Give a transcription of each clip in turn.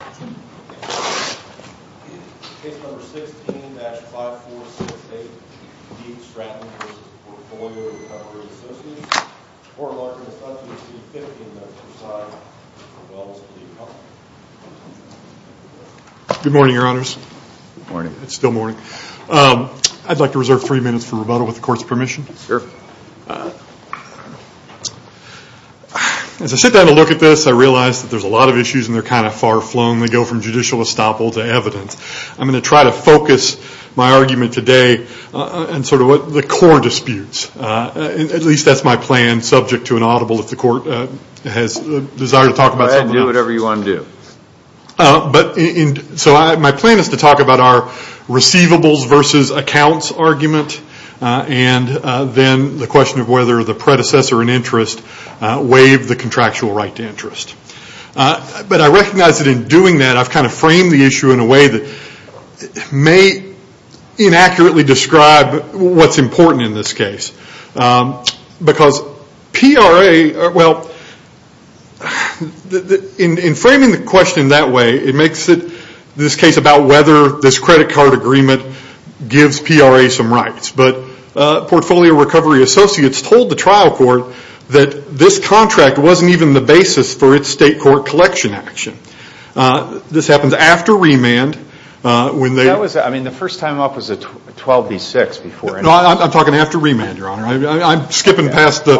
Good morning, your honors. Good morning. It's still morning. I'd like to reserve three minutes for rebuttal with the court's permission. Sure. As I sit down to look at this, I realize that there's a lot of issues and they're kind of far-flung. They go from judicial estoppel to evidence. I'm going to try to focus my argument today on sort of what the core disputes. At least that's my plan, subject to an audible if the court has a desire to talk about something else. Go ahead and do whatever you want to do. So my plan is to talk about our receivables versus accounts argument and then the question of whether the predecessor in interest waived the contractual right to interest. But I recognize that in doing that, I've kind of framed the issue in a way that may inaccurately describe what's important in this case. Because PRA, well, in framing the question that way, it makes it this case about whether this credit card agreement gives PRA some rights. But Portfolio Recovery Associates told the trial court that this contract wasn't even the basis for its state court collection action. This happens after remand, when they... I mean, the first time up was a 12B6 before... No, I'm talking after remand, Your Honor. I'm skipping past that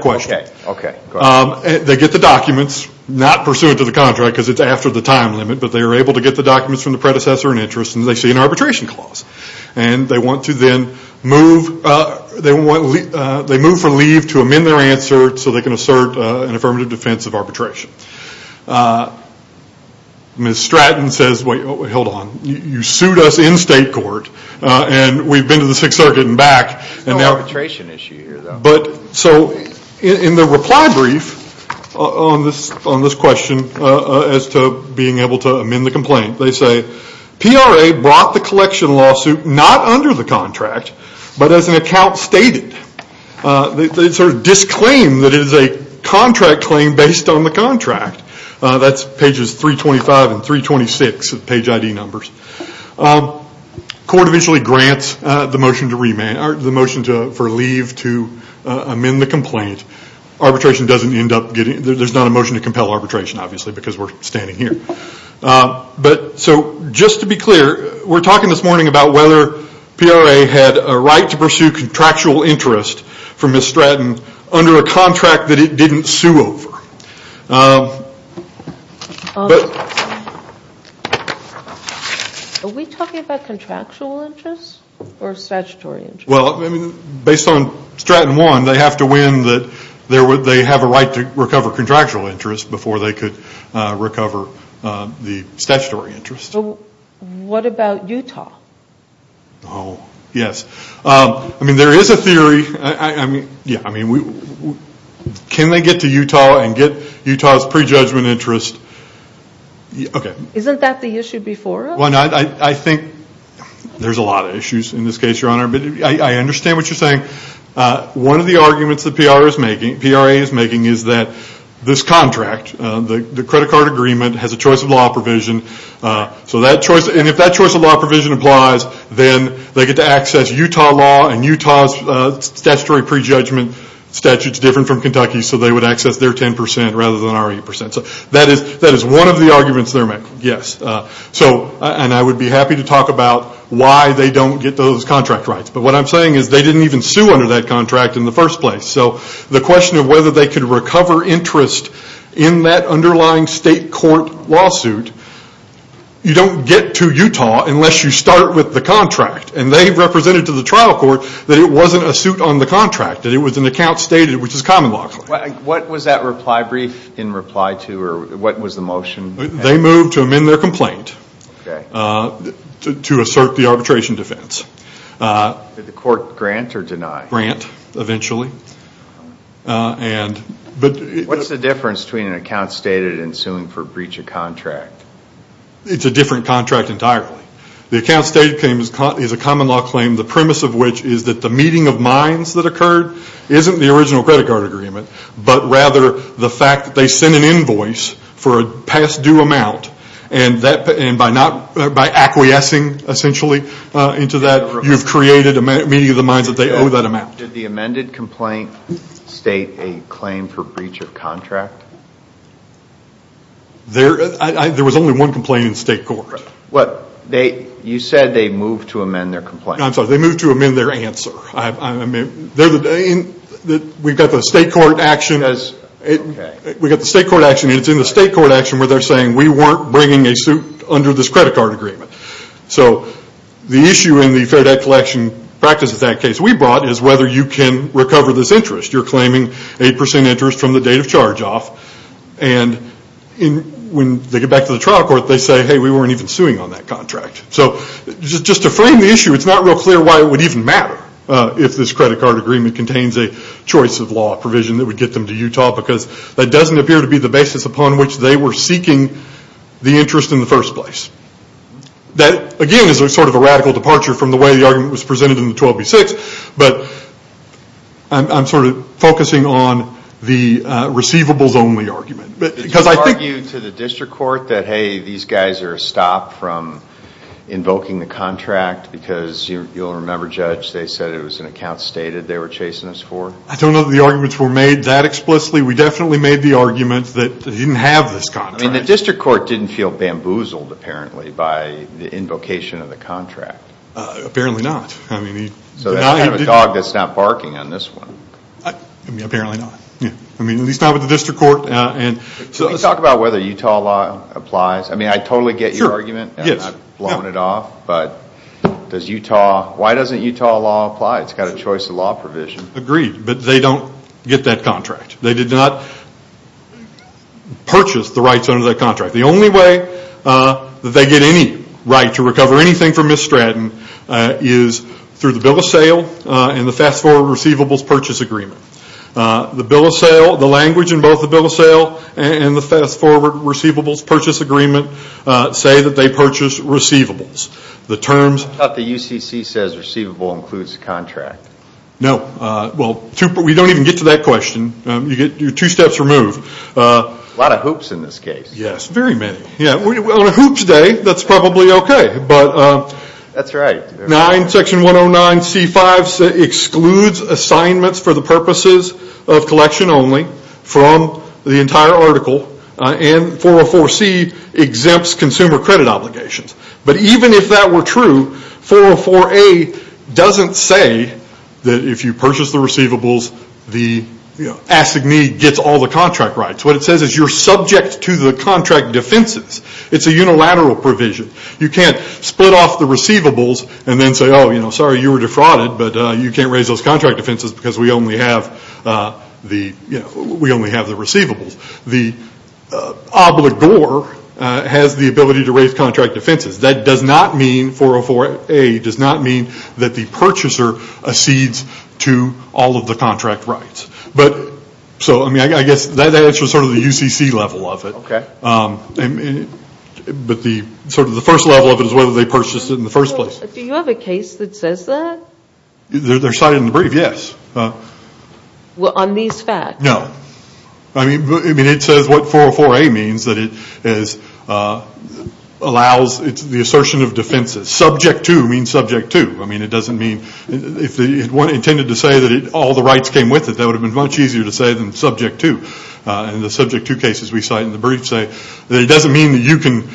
question. All right. Okay. They get the documents, not pursuant to the contract because it's after the time limit, but they are able to get the documents from the predecessor in interest and they see an They move for leave to amend their answer so they can assert an affirmative defense of arbitration. Ms. Stratton says, wait, hold on. You sued us in state court and we've been to the Sixth Circuit and back. There's no arbitration issue here, though. So in the reply brief on this question as to being able to amend the complaint, they brought the collection lawsuit not under the contract, but as an account stated. They disclaim that it is a contract claim based on the contract. That's pages 325 and 326 of page ID numbers. Court eventually grants the motion for leave to amend the complaint. Arbitration doesn't end up getting... There's not a motion to compel arbitration, obviously, because we're talking this morning about whether PRA had a right to pursue contractual interest from Ms. Stratton under a contract that it didn't sue over. Are we talking about contractual interest or statutory interest? Well, based on Stratton 1, they have to win that they have a right to recover contractual interest before they could recover the statutory interest. What about Utah? Oh, yes. I mean, there is a theory. Can they get to Utah and get Utah's pre-judgment interest? Isn't that the issue before us? I think there's a lot of issues in this case, Your Honor. I understand what you're saying. One of the arguments that PRA is making is that this contract, the credit card agreement, has a choice of law provision. If that choice of law provision applies, then they get to access Utah law and Utah's statutory pre-judgment statute is different from Kentucky's, so they would access their 10% rather than our 8%. That is one of the arguments they're making. I would be happy to talk about why they don't get those contract rights. What I'm saying is they didn't even sue under that contract in the first place. So the question of whether they could recover interest in that underlying state court lawsuit, you don't get to Utah unless you start with the contract. And they represented to the trial court that it wasn't a suit on the contract, that it was an account stated, which is common law. What was that reply brief in reply to, or what was the motion? They moved to amend their complaint to assert the arbitration defense. Did the court grant or deny? Grant, eventually. What's the difference between an account stated and suing for breach of contract? It's a different contract entirely. The account stated is a common law claim, the premise of which is that the meeting of minds that occurred isn't the original credit card agreement, but rather the fact that they sent an invoice for a past due amount, and by acquiescing essentially into that, you've created a meeting of the minds that they owe that amount. Did the amended complaint state a claim for breach of contract? There was only one complaint in state court. You said they moved to amend their complaint. I'm sorry, they moved to amend their answer. We've got the state court action, and it's in the state court action where they're saying we weren't bringing a suit under this credit card agreement. The issue in the fair debt collection practice of that case we brought is whether you can recover this interest. You're claiming 8% interest from the date of charge off, and when they get back to the trial court, they say, hey, we weren't even suing on that contract. Just to frame the issue, it's not real clear why it would even matter if this credit card agreement contains a choice of law provision that would get them to Utah, because that again is a radical departure from the way the argument was presented in the 12B6, but I'm focusing on the receivables only argument. Did you argue to the district court that, hey, these guys are stopped from invoking the contract because you'll remember, Judge, they said it was an account stated they were chasing us for? I don't know that the arguments were made that explicitly. We definitely made the argument that they didn't have this contract. The district court didn't feel bamboozled, apparently, by the invocation of the contract. Apparently not. So that's kind of a dog that's not barking on this one. Apparently not. At least not with the district court. Can you talk about whether Utah law applies? I totally get your argument. I'm not blowing it off, but why doesn't Utah law apply? It's got a choice of law provision. Agreed, but they don't get that contract. They did not purchase the rights under that contract. The only way that they get any right to recover anything from Miss Stratton is through the bill of sale and the fast forward receivables purchase agreement. The bill of sale, the language in both the bill of sale and the fast forward receivables purchase agreement say that they purchase receivables. The terms of the UCC says receivable includes the contract. No. We don't even get to that question. You're two steps removed. A lot of hoops in this case. Yes, very many. On a hoops day, that's probably okay. That's right. Section 109C5 excludes assignments for the purposes of collection only from the entire article and 404C exempts consumer credit obligations. Even if that were true, 404A doesn't say that if you purchase the receivables, the assignee gets all the contract rights. What it says is you're subject to the contract defenses. It's a unilateral provision. You can't split off the receivables and then say, sorry, you were defrauded, but you can't raise those contract defenses because we only have the receivables. The obligor has the ability to raise contract defenses. 404A does not mean that the purchaser accedes to all of the contract rights. I guess that answers the UCC level of it. The first level of it is whether they purchased it in the first place. Do you have a case that says that? They're cited in the brief, yes. On these facts? No. It says what 404A means. It's the assertion of defenses. Subject to means subject to. If it were intended to say that all the rights came with it, that would have been much easier to say than subject to. In the subject to cases we cite in the brief say that it doesn't mean that you can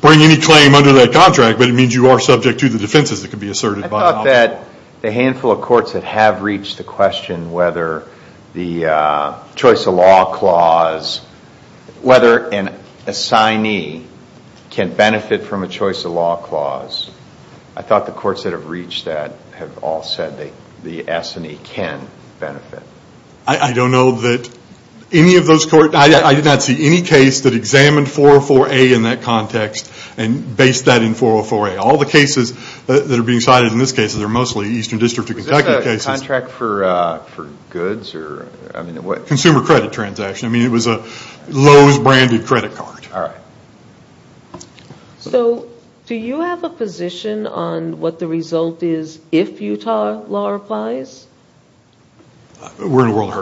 bring any claim under that contract, but it means you are subject to the defenses that could be asserted. I thought that the handful of courts that have reached the question whether the choice of law clause, whether an assignee can benefit from a choice of law clause, I thought the courts that have reached that have all said that the assignee can benefit. I don't know that any of those courts, I did not see any case that examined 404A in that context and based that in 404A. All the cases that are being cited in this case are mostly Eastern District of Kentucky cases. Is this a contract for goods? Consumer credit transaction. It was a Lowe's branded credit card. Do you have a position on what the result is if Utah law applies? We're in a world of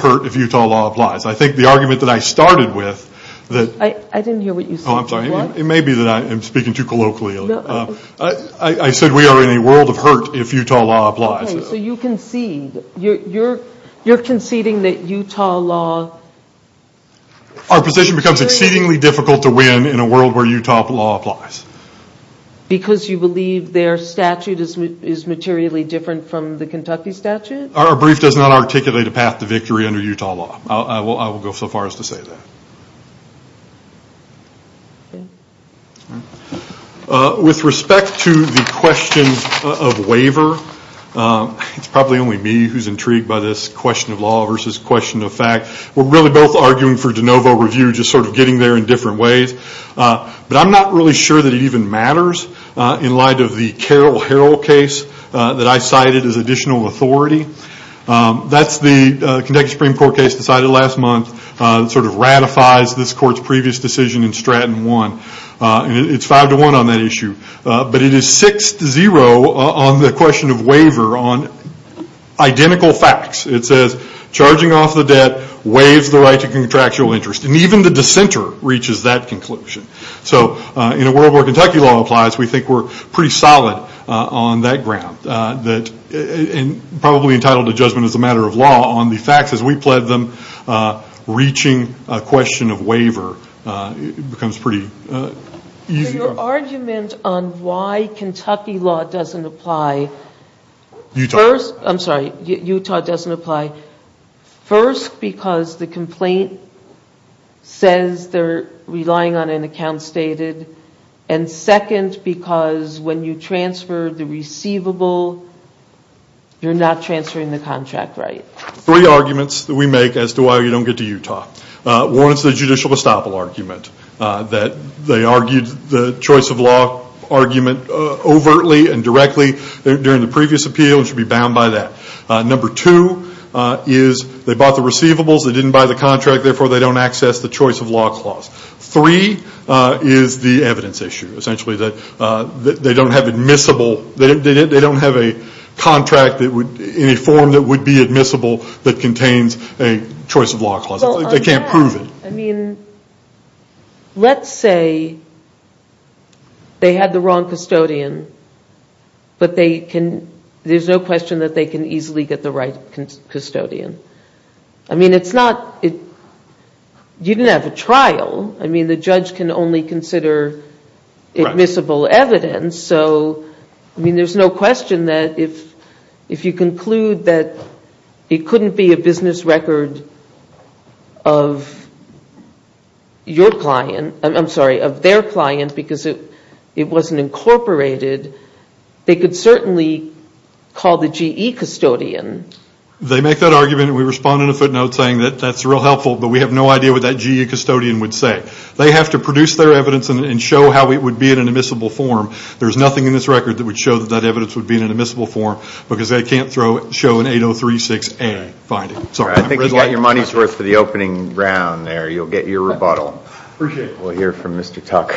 hurt if Utah law applies. I think the argument that I started with... I didn't hear what you said. It may be that I'm speaking too colloquially. I said we are in a world of hurt if Utah law applies. So you concede, you're conceding that Utah law... Our position becomes exceedingly difficult to win in a world where Utah law applies. Because you believe their statute is materially different from the Kentucky statute? Our brief does not articulate a path to victory under Utah law. I will go so far as to say that. With respect to the question of waiver, it's probably only me who's intrigued by this question of law versus question of fact. We're really both arguing for de novo review, just sort of getting there in different ways. But I'm not really sure that it even matters in light of the Carroll-Harrell case that I cited as additional authority. That's the Kentucky Supreme Court case decided last month. Sort of ratifies this court's previous decision in Stratton 1. It's 5-1 on that issue. But it is 6-0 on the question of waiver on identical facts. It says charging off the debt waives the right to contractual interest. And even the dissenter reaches that conclusion. So in a world where Kentucky law applies, we think we're pretty solid on that ground. And probably entitled to judgment as a matter of law on the facts. As we pled them, reaching a question of waiver becomes pretty easy. Your argument on why Kentucky law doesn't apply... Utah. I'm sorry, Utah doesn't apply. First, because the complaint says they're relying on an account stated. And second, because when you transfer the receivable, you're not transferring the contract right. Three arguments that we make as to why you don't get to Utah. One is the judicial estoppel argument. That they argued the choice of law argument overtly and directly during the previous appeal and should be bound by that. Number two is they bought the receivables. They didn't buy the contract. Therefore, they don't access the choice of law clause. Three is the evidence issue. Essentially that they don't have admissible... They don't have a contract in a form that would be admissible that contains a choice of law clause. They can't prove it. I mean, let's say they had the wrong custodian. But there's no question that they can easily get the right custodian. I mean, it's not... You didn't have a trial. I mean, the judge can only consider admissible evidence. So, I mean, there's no question that if you conclude that it couldn't be a business record of your client... I'm sorry, of their client because it wasn't incorporated, they could certainly call the GE custodian. They make that argument and we respond in a footnote saying that's real helpful, but we have no idea what that GE custodian would say. They have to produce their evidence and show how it would be in an admissible form. There's nothing in this record that would show that that evidence would be in an admissible form because they can't show an 8036A finding. I think you got your money's worth for the opening round there. You'll get your rebuttal. We'll hear from Mr. Tucker.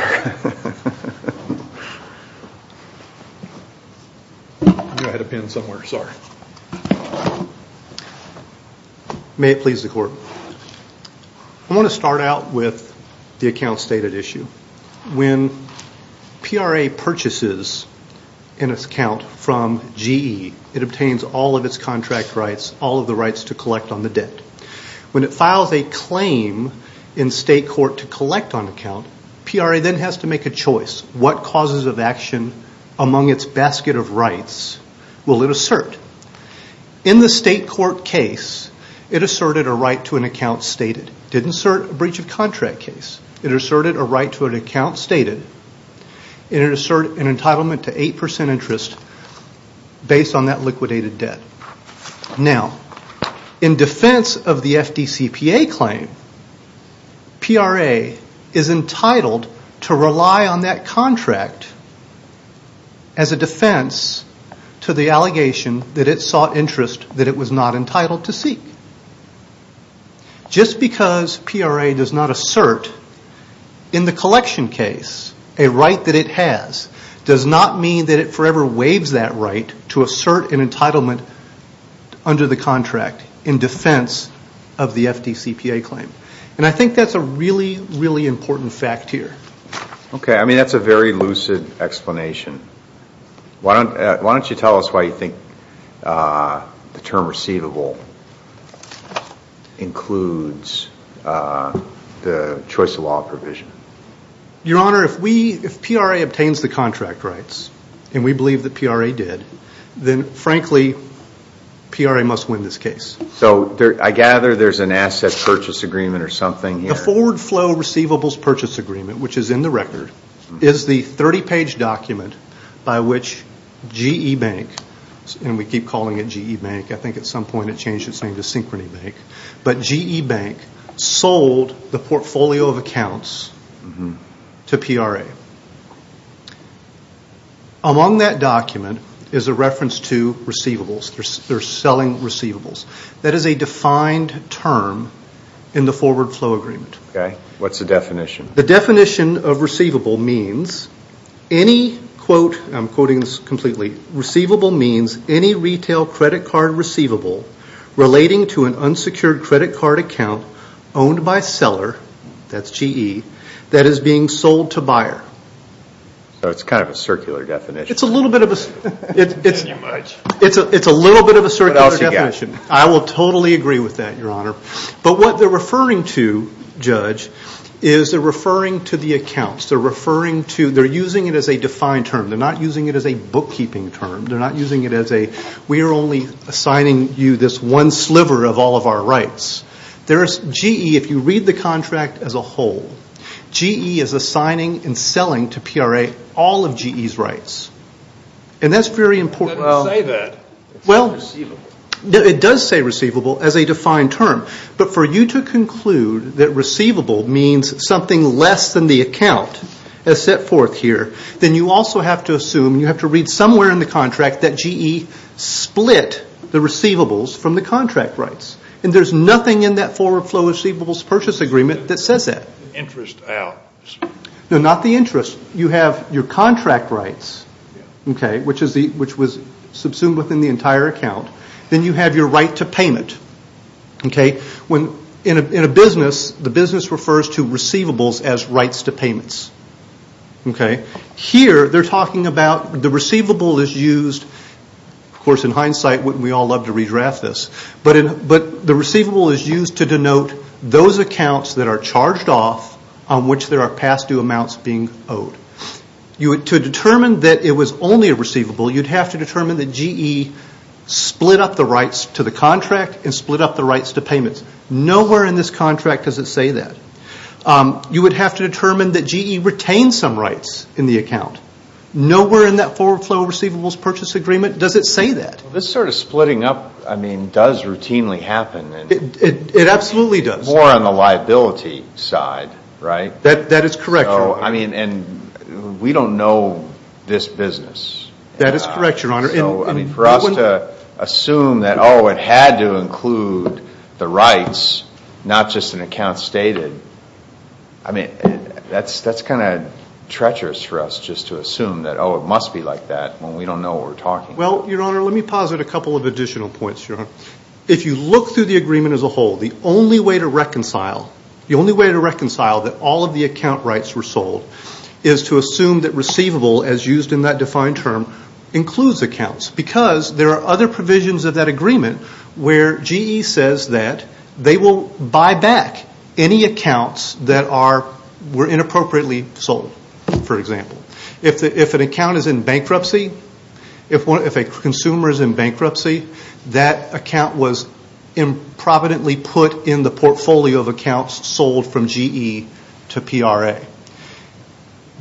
May it please the court. I want to start out with the account stated issue. When PRA purchases an account from GE, it obtains all of its contract rights, all of the rights to collect on the debt. When it files a claim in state court to collect on account, PRA then has to make a choice. What causes of action among its basket of rights will it assert? In the state court case, it asserted a right to an account stated. It didn't assert a breach of contract case. It asserted a right to an account stated. It asserted an entitlement to 8% interest based on that liquidated debt. Now, in defense of the FDCPA claim, PRA is entitled to rely on that contract as a defense to the allegation that it sought interest that it was not entitled to seek. Just because PRA does not assert in the collection case a right that it has does not mean that it forever waives that right to assert an entitlement under the contract in defense of the FDCPA claim. And I think that's a really, really important fact here. Okay, I mean that's a very lucid explanation. Why don't you tell us why you think the term receivable includes the choice of law provision? Your Honor, if PRA obtains the contract rights, and we believe that PRA did, then frankly, PRA must win this case. So, I gather there's an asset purchase agreement or something here. The Forward Flow Receivables Purchase Agreement, which is in the record, is the 30-page document by which GE Bank, and we keep calling it GE Bank, I think at some point it changed its name to Synchrony Bank, but GE Bank sold the portfolio of accounts to PRA. Among that document is a reference to receivables. They're selling receivables. That is a defined term in the Forward Flow Agreement. Okay, what's the definition? The definition of receivable means any quote, I'm quoting this completely, receivable means any retail credit card receivable relating to an unsecured credit card account owned by a seller, that's GE, that is being sold to buyer. So it's kind of a circular definition. It's a little bit of a circular definition. I will totally agree with that, Your Honor. But what they're referring to, Judge, is they're referring to the accounts. They're using it as a defined term. They're not using it as a bookkeeping term. We are only assigning you this one sliver of all of our rights. GE, if you read the contract as a whole, GE is assigning and selling to PRA all of GE's rights. And that's very important. It doesn't say that. It says receivable. It does say receivable as a defined term. But for you to conclude that receivable means something less than the account as set forth here, then you also have to assume, you have to read somewhere in the contract that GE split the receivables from the contract rights. And there's nothing in that forward flow receivables purchase agreement that says that. Interest out. No, not the interest. You have your contract rights, which was subsumed within the entire account. Then you have your right to payment. In a business, the business refers to receivables as rights to payments. Here, they're talking about the receivable is used, of course in hindsight, wouldn't we all love to redraft this, but the receivable is used to denote those accounts that are charged off on which there are past due amounts being owed. To determine that it was only a receivable, you'd have to determine that GE split up the rights to the contract and split up the rights to payments. Nowhere in this contract does it say that. You would have to determine that GE retained some rights in the account. Nowhere in that forward flow receivables purchase agreement does it say that. This sort of splitting up does routinely happen. It absolutely does. More on the liability side, right? That is correct, Your Honor. We don't know this business. That is correct, Your Honor. For us to assume that, oh, it had to include the rights, not just an account stated, that's kind of treacherous for us, just to assume that, oh, it must be like that when we don't know what we're talking about. Well, Your Honor, let me posit a couple of additional points, Your Honor. If you look through the agreement as a whole, the only way to reconcile that all of the account rights were sold is to assume that receivable, as used in that defined term, includes accounts because there are other provisions of that agreement where GE says that they will buy back any accounts that were inappropriately sold, for example. If an account is in bankruptcy, if a consumer is in bankruptcy, that account was improvidently put in the portfolio of accounts sold from GE to PRA.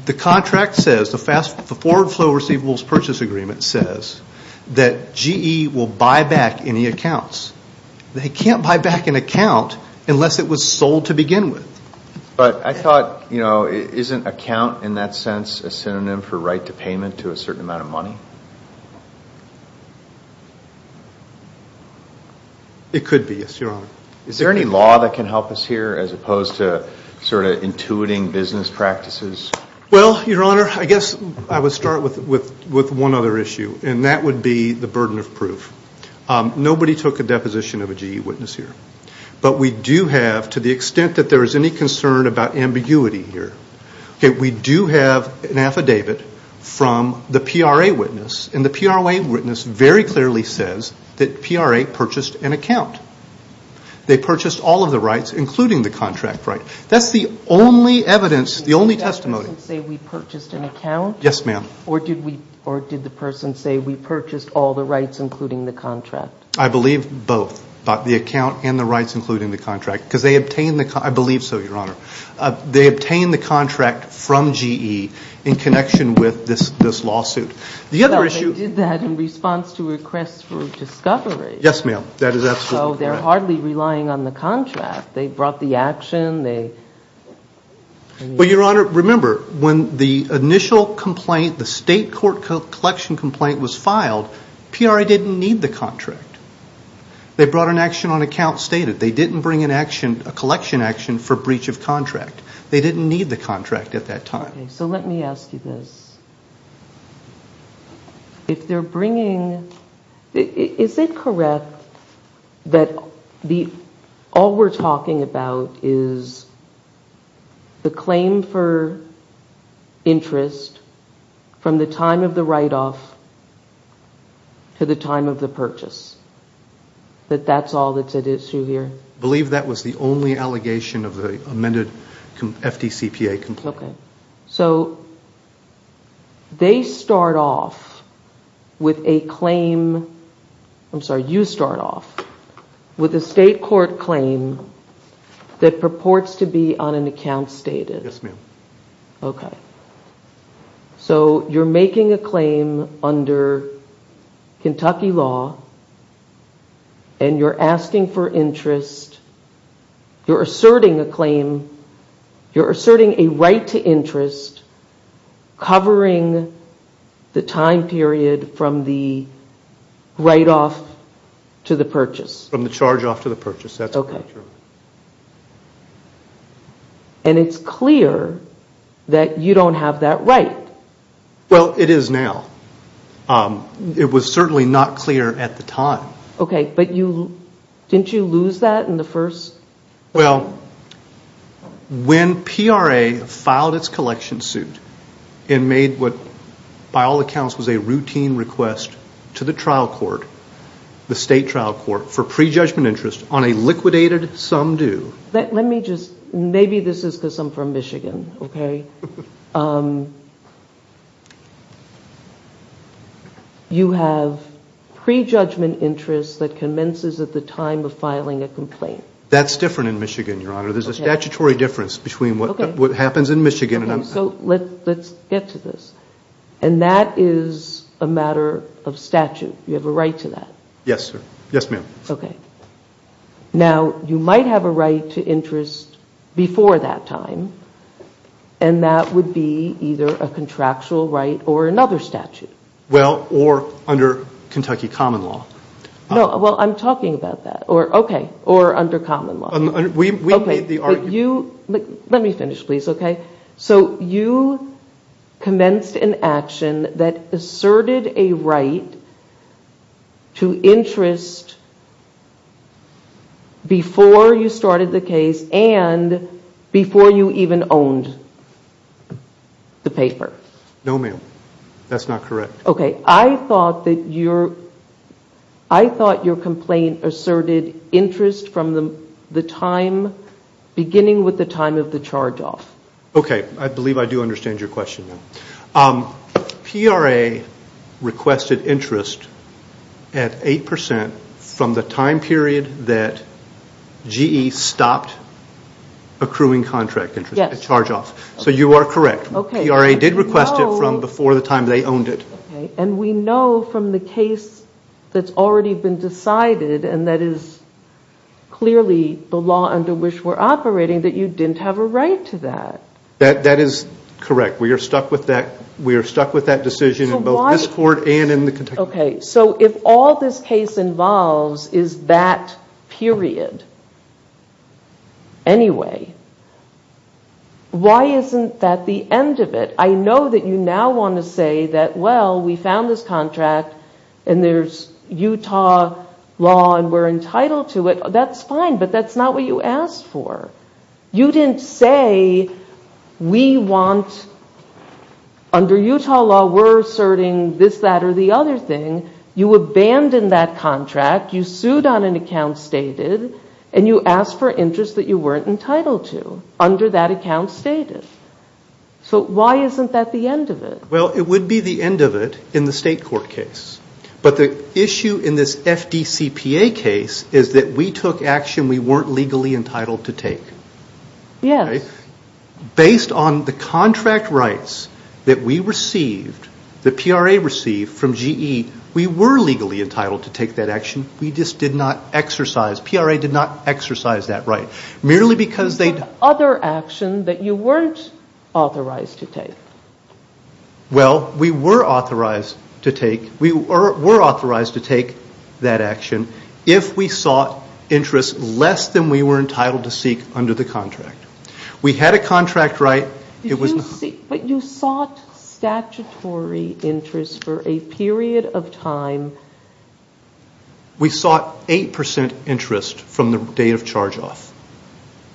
The contract says, the forward flow receivables purchase agreement says, that GE will buy back any accounts. They can't buy back an account unless it was sold to begin with. But I thought, you know, isn't account, in that sense, a synonym for right to payment to a certain amount of money? It could be, yes, Your Honor. Is there any law that can help us here as opposed to sort of intuiting business practices? Well, Your Honor, I guess I would start with one other issue, and that would be the burden of proof. Nobody took a deposition of a GE witness here. But we do have, to the extent that there is any concern about ambiguity here, we do have an affidavit from the PRA witness, and the PRA witness very clearly says that PRA purchased an account. They purchased all of the rights, including the contract right. That's the only evidence, the only testimony. Did the affidavit say we purchased an account? Yes, ma'am. Or did the person say we purchased all the rights, including the contract? I believe both, the account and the rights, including the contract. Because they obtained the, I believe so, Your Honor, they obtained the contract from GE in connection with this lawsuit. The other issue... No, they did that in response to requests for discovery. Yes, ma'am, that is absolutely correct. So they're hardly relying on the contract. They brought the action, they... Well, Your Honor, remember, when the initial complaint, the state court collection complaint was filed, PRA didn't need the contract. They brought an action on account stated. They didn't bring an action, a collection action for breach of contract. They didn't need the contract at that time. So let me ask you this. If they're bringing... Is it correct that all we're talking about is the claim for interest from the time of the write-off to the time of the purchase? That that's all that's at issue here? I believe that was the only allegation of the amended FDCPA complaint. Okay. So they start off with a claim... I'm sorry, you start off with a state court claim that purports to be on an account stated. Yes, ma'am. Okay. So you're making a claim under Kentucky law, and you're asking for interest, you're asserting a claim, you're asserting a right to interest covering the time period from the write-off to the purchase. From the charge-off to the purchase. Okay. And it's clear that you don't have that right. Well, it is now. It was certainly not clear at the time. Okay, but didn't you lose that in the first... Well, when PRA filed its collection suit and made what by all accounts was a routine request to the trial court, the state trial court, for prejudgment interest on a liquidated sum due... Let me just... Maybe this is because I'm from Michigan, okay? You have prejudgment interest that commences at the time of filing a complaint. That's different in Michigan, Your Honor. There's a statutory difference between what happens in Michigan... Okay, so let's get to this. And that is a matter of statute. You have a right to that. Yes, sir. Yes, ma'am. Okay. Now, you might have a right to interest before that time, and that would be either a contractual right or another statute. Well, or under Kentucky common law. No, well, I'm talking about that. Okay, or under common law. We made the argument... Okay, but you... Let me finish, please, okay? So you commenced an action that asserted a right to interest before you started the case and before you even owned the paper. No, ma'am. That's not correct. Okay, I thought that your... I thought your complaint asserted interest from the time... Okay, I believe I do understand your question now. PRA requested interest at 8% from the time period that GE stopped accruing contract interest, a charge-off. Yes. So you are correct. PRA did request it from before the time they owned it. And we know from the case that's already been decided and that is clearly the law under which we're operating that you didn't have a right to that. That is correct. We are stuck with that decision in both this court and in the Kentucky... Okay, so if all this case involves is that period anyway, why isn't that the end of it? I know that you now want to say that, well, we found this contract and there's Utah law and we're entitled to it. That's fine, but that's not what you asked for. You didn't say we want... Under Utah law, we're asserting this, that or the other thing. You abandoned that contract. You sued on an account stated and you asked for interest that you weren't entitled to under that account stated. So why isn't that the end of it? Well, it would be the end of it in the state court case. But the issue in this FDCPA case is that we took action we weren't legally entitled to take. Yes. Based on the contract rights that we received, the PRA received from GE, we were legally entitled to take that action. We just did not exercise, PRA did not exercise that right. Merely because they... Other action that you weren't authorized to take. Well, we were authorized to take that action. If we sought interest less than we were entitled to seek under the contract. We had a contract right. But you sought statutory interest for a period of time. We sought 8% interest from the date of charge off.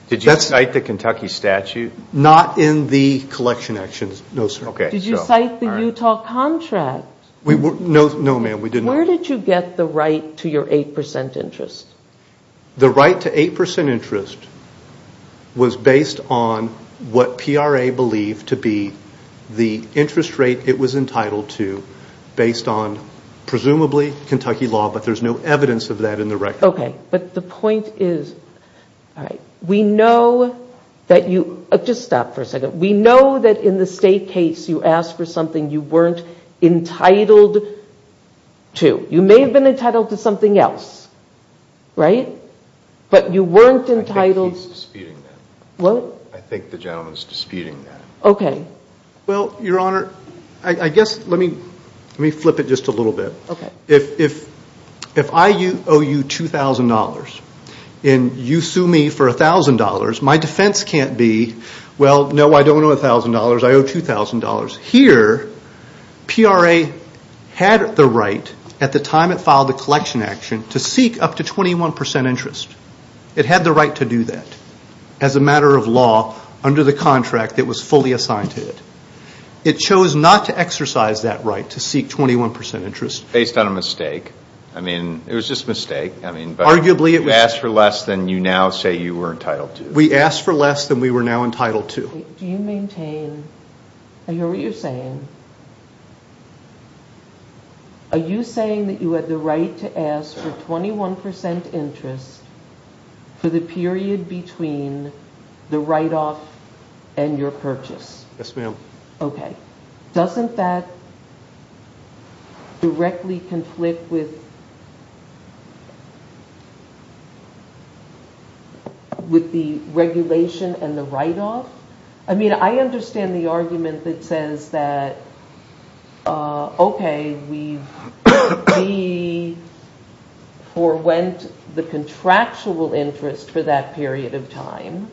Did you cite the Kentucky statute? Not in the collection actions. No, sir. Did you cite the Utah contract? No, ma'am, we did not. Where did you get the right to your 8% interest? The right to 8% interest was based on what PRA believed to be the interest rate it was entitled to based on presumably Kentucky law, but there's no evidence of that in the record. Okay, but the point is... We know that you... Just stop for a second. We know that in the state case you asked for something you weren't entitled to. You may have been entitled to something else, right? But you weren't entitled... I think he's disputing that. What? I think the gentleman's disputing that. Okay. Well, your honor, I guess... Let me flip it just a little bit. If I owe you $2,000 and you sue me for $1,000, well, no, I don't owe $1,000. I owe $2,000. Here, PRA had the right at the time it filed the collection action to seek up to 21% interest. It had the right to do that as a matter of law under the contract that was fully assigned to it. It chose not to exercise that right to seek 21% interest. Based on a mistake. I mean, it was just a mistake. Arguably, it was... You asked for less than you now say you were entitled to. We asked for less than we were now entitled to. Do you maintain... I hear what you're saying. Are you saying that you had the right to ask for 21% interest for the period between the write-off and your purchase? Yes, ma'am. Okay. Doesn't that directly conflict with... with the regulation and the write-off? I mean, I understand the argument that says that, okay, we've... we forewent the contractual interest for that period of time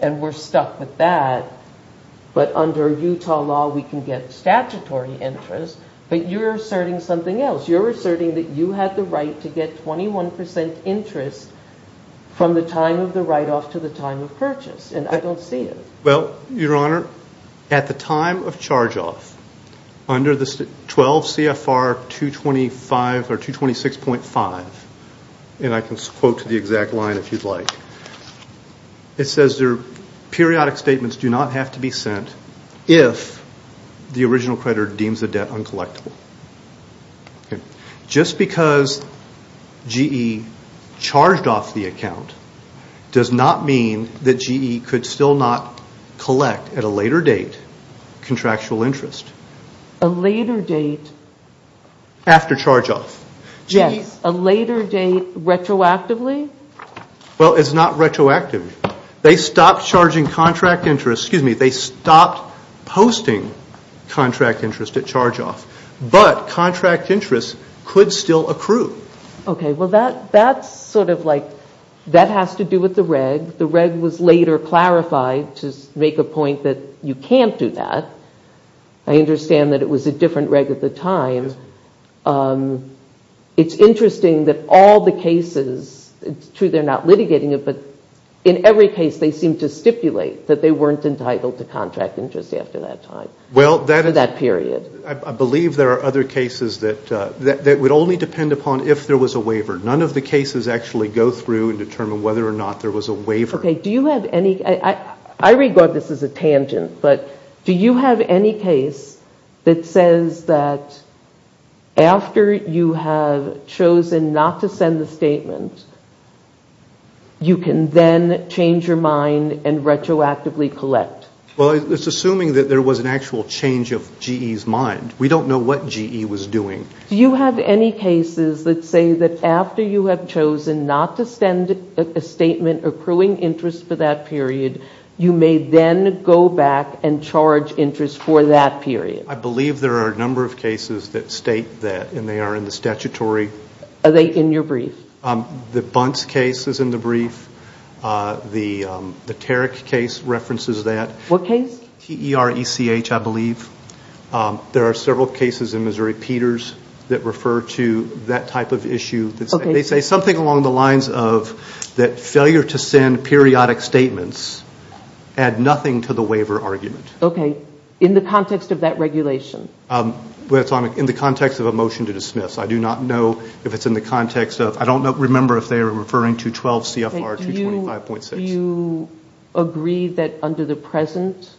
and we're stuck with that. But under Utah law, we can get statutory interest. But you're asserting something else. You're asserting that you had the right to get 21% interest from the time of the write-off to the time of purchase. And I don't see it. Well, Your Honor, at the time of charge-off, under the 12 CFR 225... or 226.5, and I can quote to the exact line if you'd like, it says there, periodic statements do not have to be sent if the original creditor deems the debt uncollectable. Okay. Just because GE charged off the account does not mean that GE could still not collect at a later date contractual interest. A later date? After charge-off. Yes. A later date retroactively? Well, it's not retroactive. They stopped charging contract interest... excuse me, they stopped posting contract interest at charge-off. But contract interest could still accrue. Okay. Well, that's sort of like... that has to do with the reg. The reg was later clarified to make a point that you can't do that. I understand that it was a different reg at the time. It's interesting that all the cases... it's true they're not litigating it, but in every case, they seem to stipulate that they weren't entitled to contract interest after that time, for that period. I believe there are other cases that would only depend upon if there was a waiver. None of the cases actually go through and determine whether or not there was a waiver. Okay, do you have any... I regard this as a tangent, but do you have any case that says that after you have chosen not to send the statement, you can then change your mind and retroactively collect? Well, it's assuming that there was an actual change of GE's mind. We don't know what GE was doing. Do you have any cases that say that after you have chosen not to send a statement accruing interest for that period, you may then go back and charge interest for that period? I believe there are a number of cases that state that, and they are in the statutory... Are they in your brief? The Bunce case is in the brief. The Tarek case references that. What case? TERECH, I believe. There are several cases in Missouri. Peters that refer to that type of issue. They say something along the lines of that failure to send periodic statements add nothing to the waiver argument. Okay, in the context of that regulation? In the context of a motion to dismiss. I do not know if it's in the context of... I don't remember if they are referring to 12 CFR 225.6. Do you agree that under the present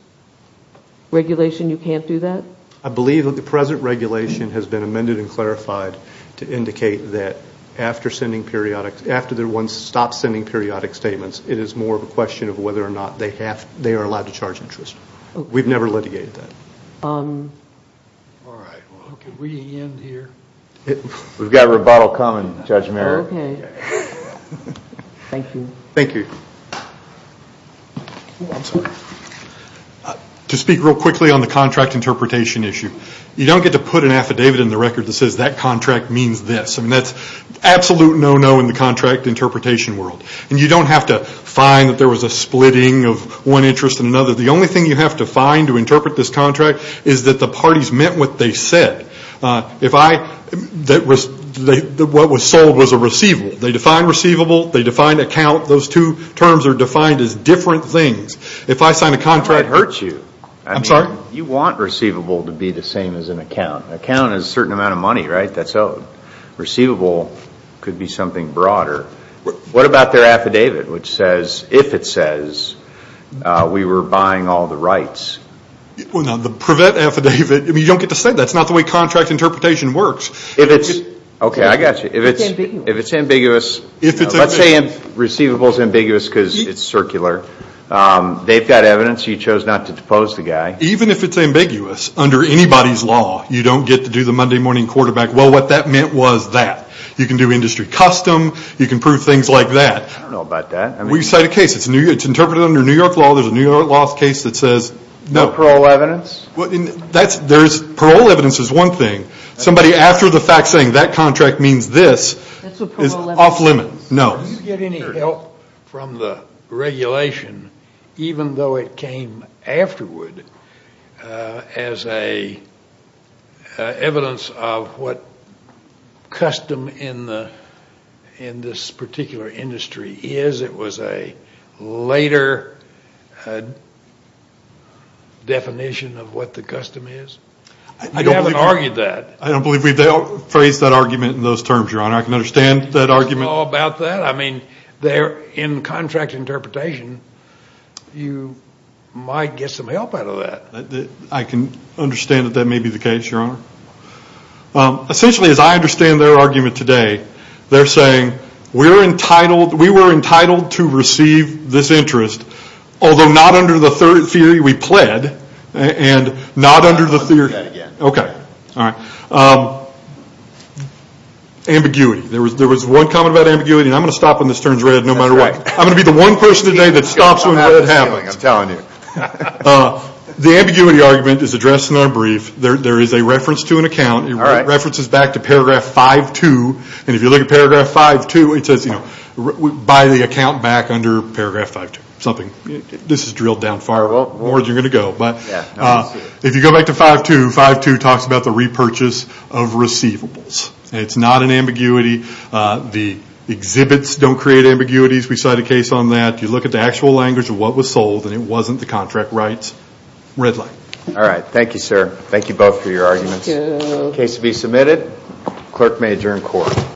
regulation you can't do that? I believe that the present regulation has been amended and clarified to indicate that after sending periodic... after the one stops sending periodic statements, it is more of a question of whether or not they are allowed to charge interest. We've never litigated that. All right. Can we end here? We've got a rebuttal coming, Judge Merrick. Okay. Thank you. Thank you. To speak real quickly on the contract interpretation issue. You don't get to put an affidavit in the record that says that contract means this. That's absolute no-no in the contract interpretation world. You don't have to find that there was a splitting of one interest and another. The only thing you have to find to interpret this contract is that the parties meant what they said. If I... What was sold was a receivable. They define receivable. They define account. Those two terms are defined as different things. If I sign a contract... It hurts you. I'm sorry? You want receivable to be the same as an account. An account is a certain amount of money, right? That's owed. Receivable could be something broader. What about their affidavit which says, if it says we were buying all the rights? Well, no, the prevent affidavit... You don't get to say that. That's not the way contract interpretation works. If it's... Okay, I got you. If it's ambiguous... Let's say receivable is ambiguous because it's circular. They've got evidence. You chose not to depose the guy. Even if it's ambiguous, under anybody's law, you don't get to do the Monday morning quarterback, well, what that meant was that. You can do industry custom. You can prove things like that. I don't know about that. We cite a case. It's interpreted under New York law. There's a New York law case that says... No parole evidence? Parole evidence is one thing. Somebody, after the fact, saying that contract means this, is off limits. No. Did you get any help from the regulation, even though it came afterward, as evidence of what custom in this particular industry is? It was a later definition of what the custom is? You haven't argued that. I don't believe we've phrased that argument in those terms, Your Honor. I can understand that argument. I mean, in contract interpretation, you might get some help out of that. I can understand that that may be the case, Your Honor. Essentially, as I understand their argument today, they're saying, we were entitled to receive this interest, although not under the theory we pled, and not under the theory... Let's look at that again. Okay. Ambiguity. There was one comment about ambiguity, and I'm going to stop when this turns red, no matter what. I'm going to be the one person today that stops when red happens. I'm telling you. The ambiguity argument is addressed in our brief. There is a reference to an account. It references back to paragraph 5-2, and if you look at paragraph 5-2, it says, buy the account back under paragraph 5-2, something. This is drilled down far more than you're going to go, but if you go back to 5-2, 5-2 talks about the repurchase of receivables. It's not an ambiguity. The exhibits don't create ambiguities. We cite a case on that. You look at the actual language of what was sold, and it wasn't the contract rights. Red light. All right. Thank you, sir. Thank you both for your arguments. Thank you. Case to be submitted. Clerk may adjourn court.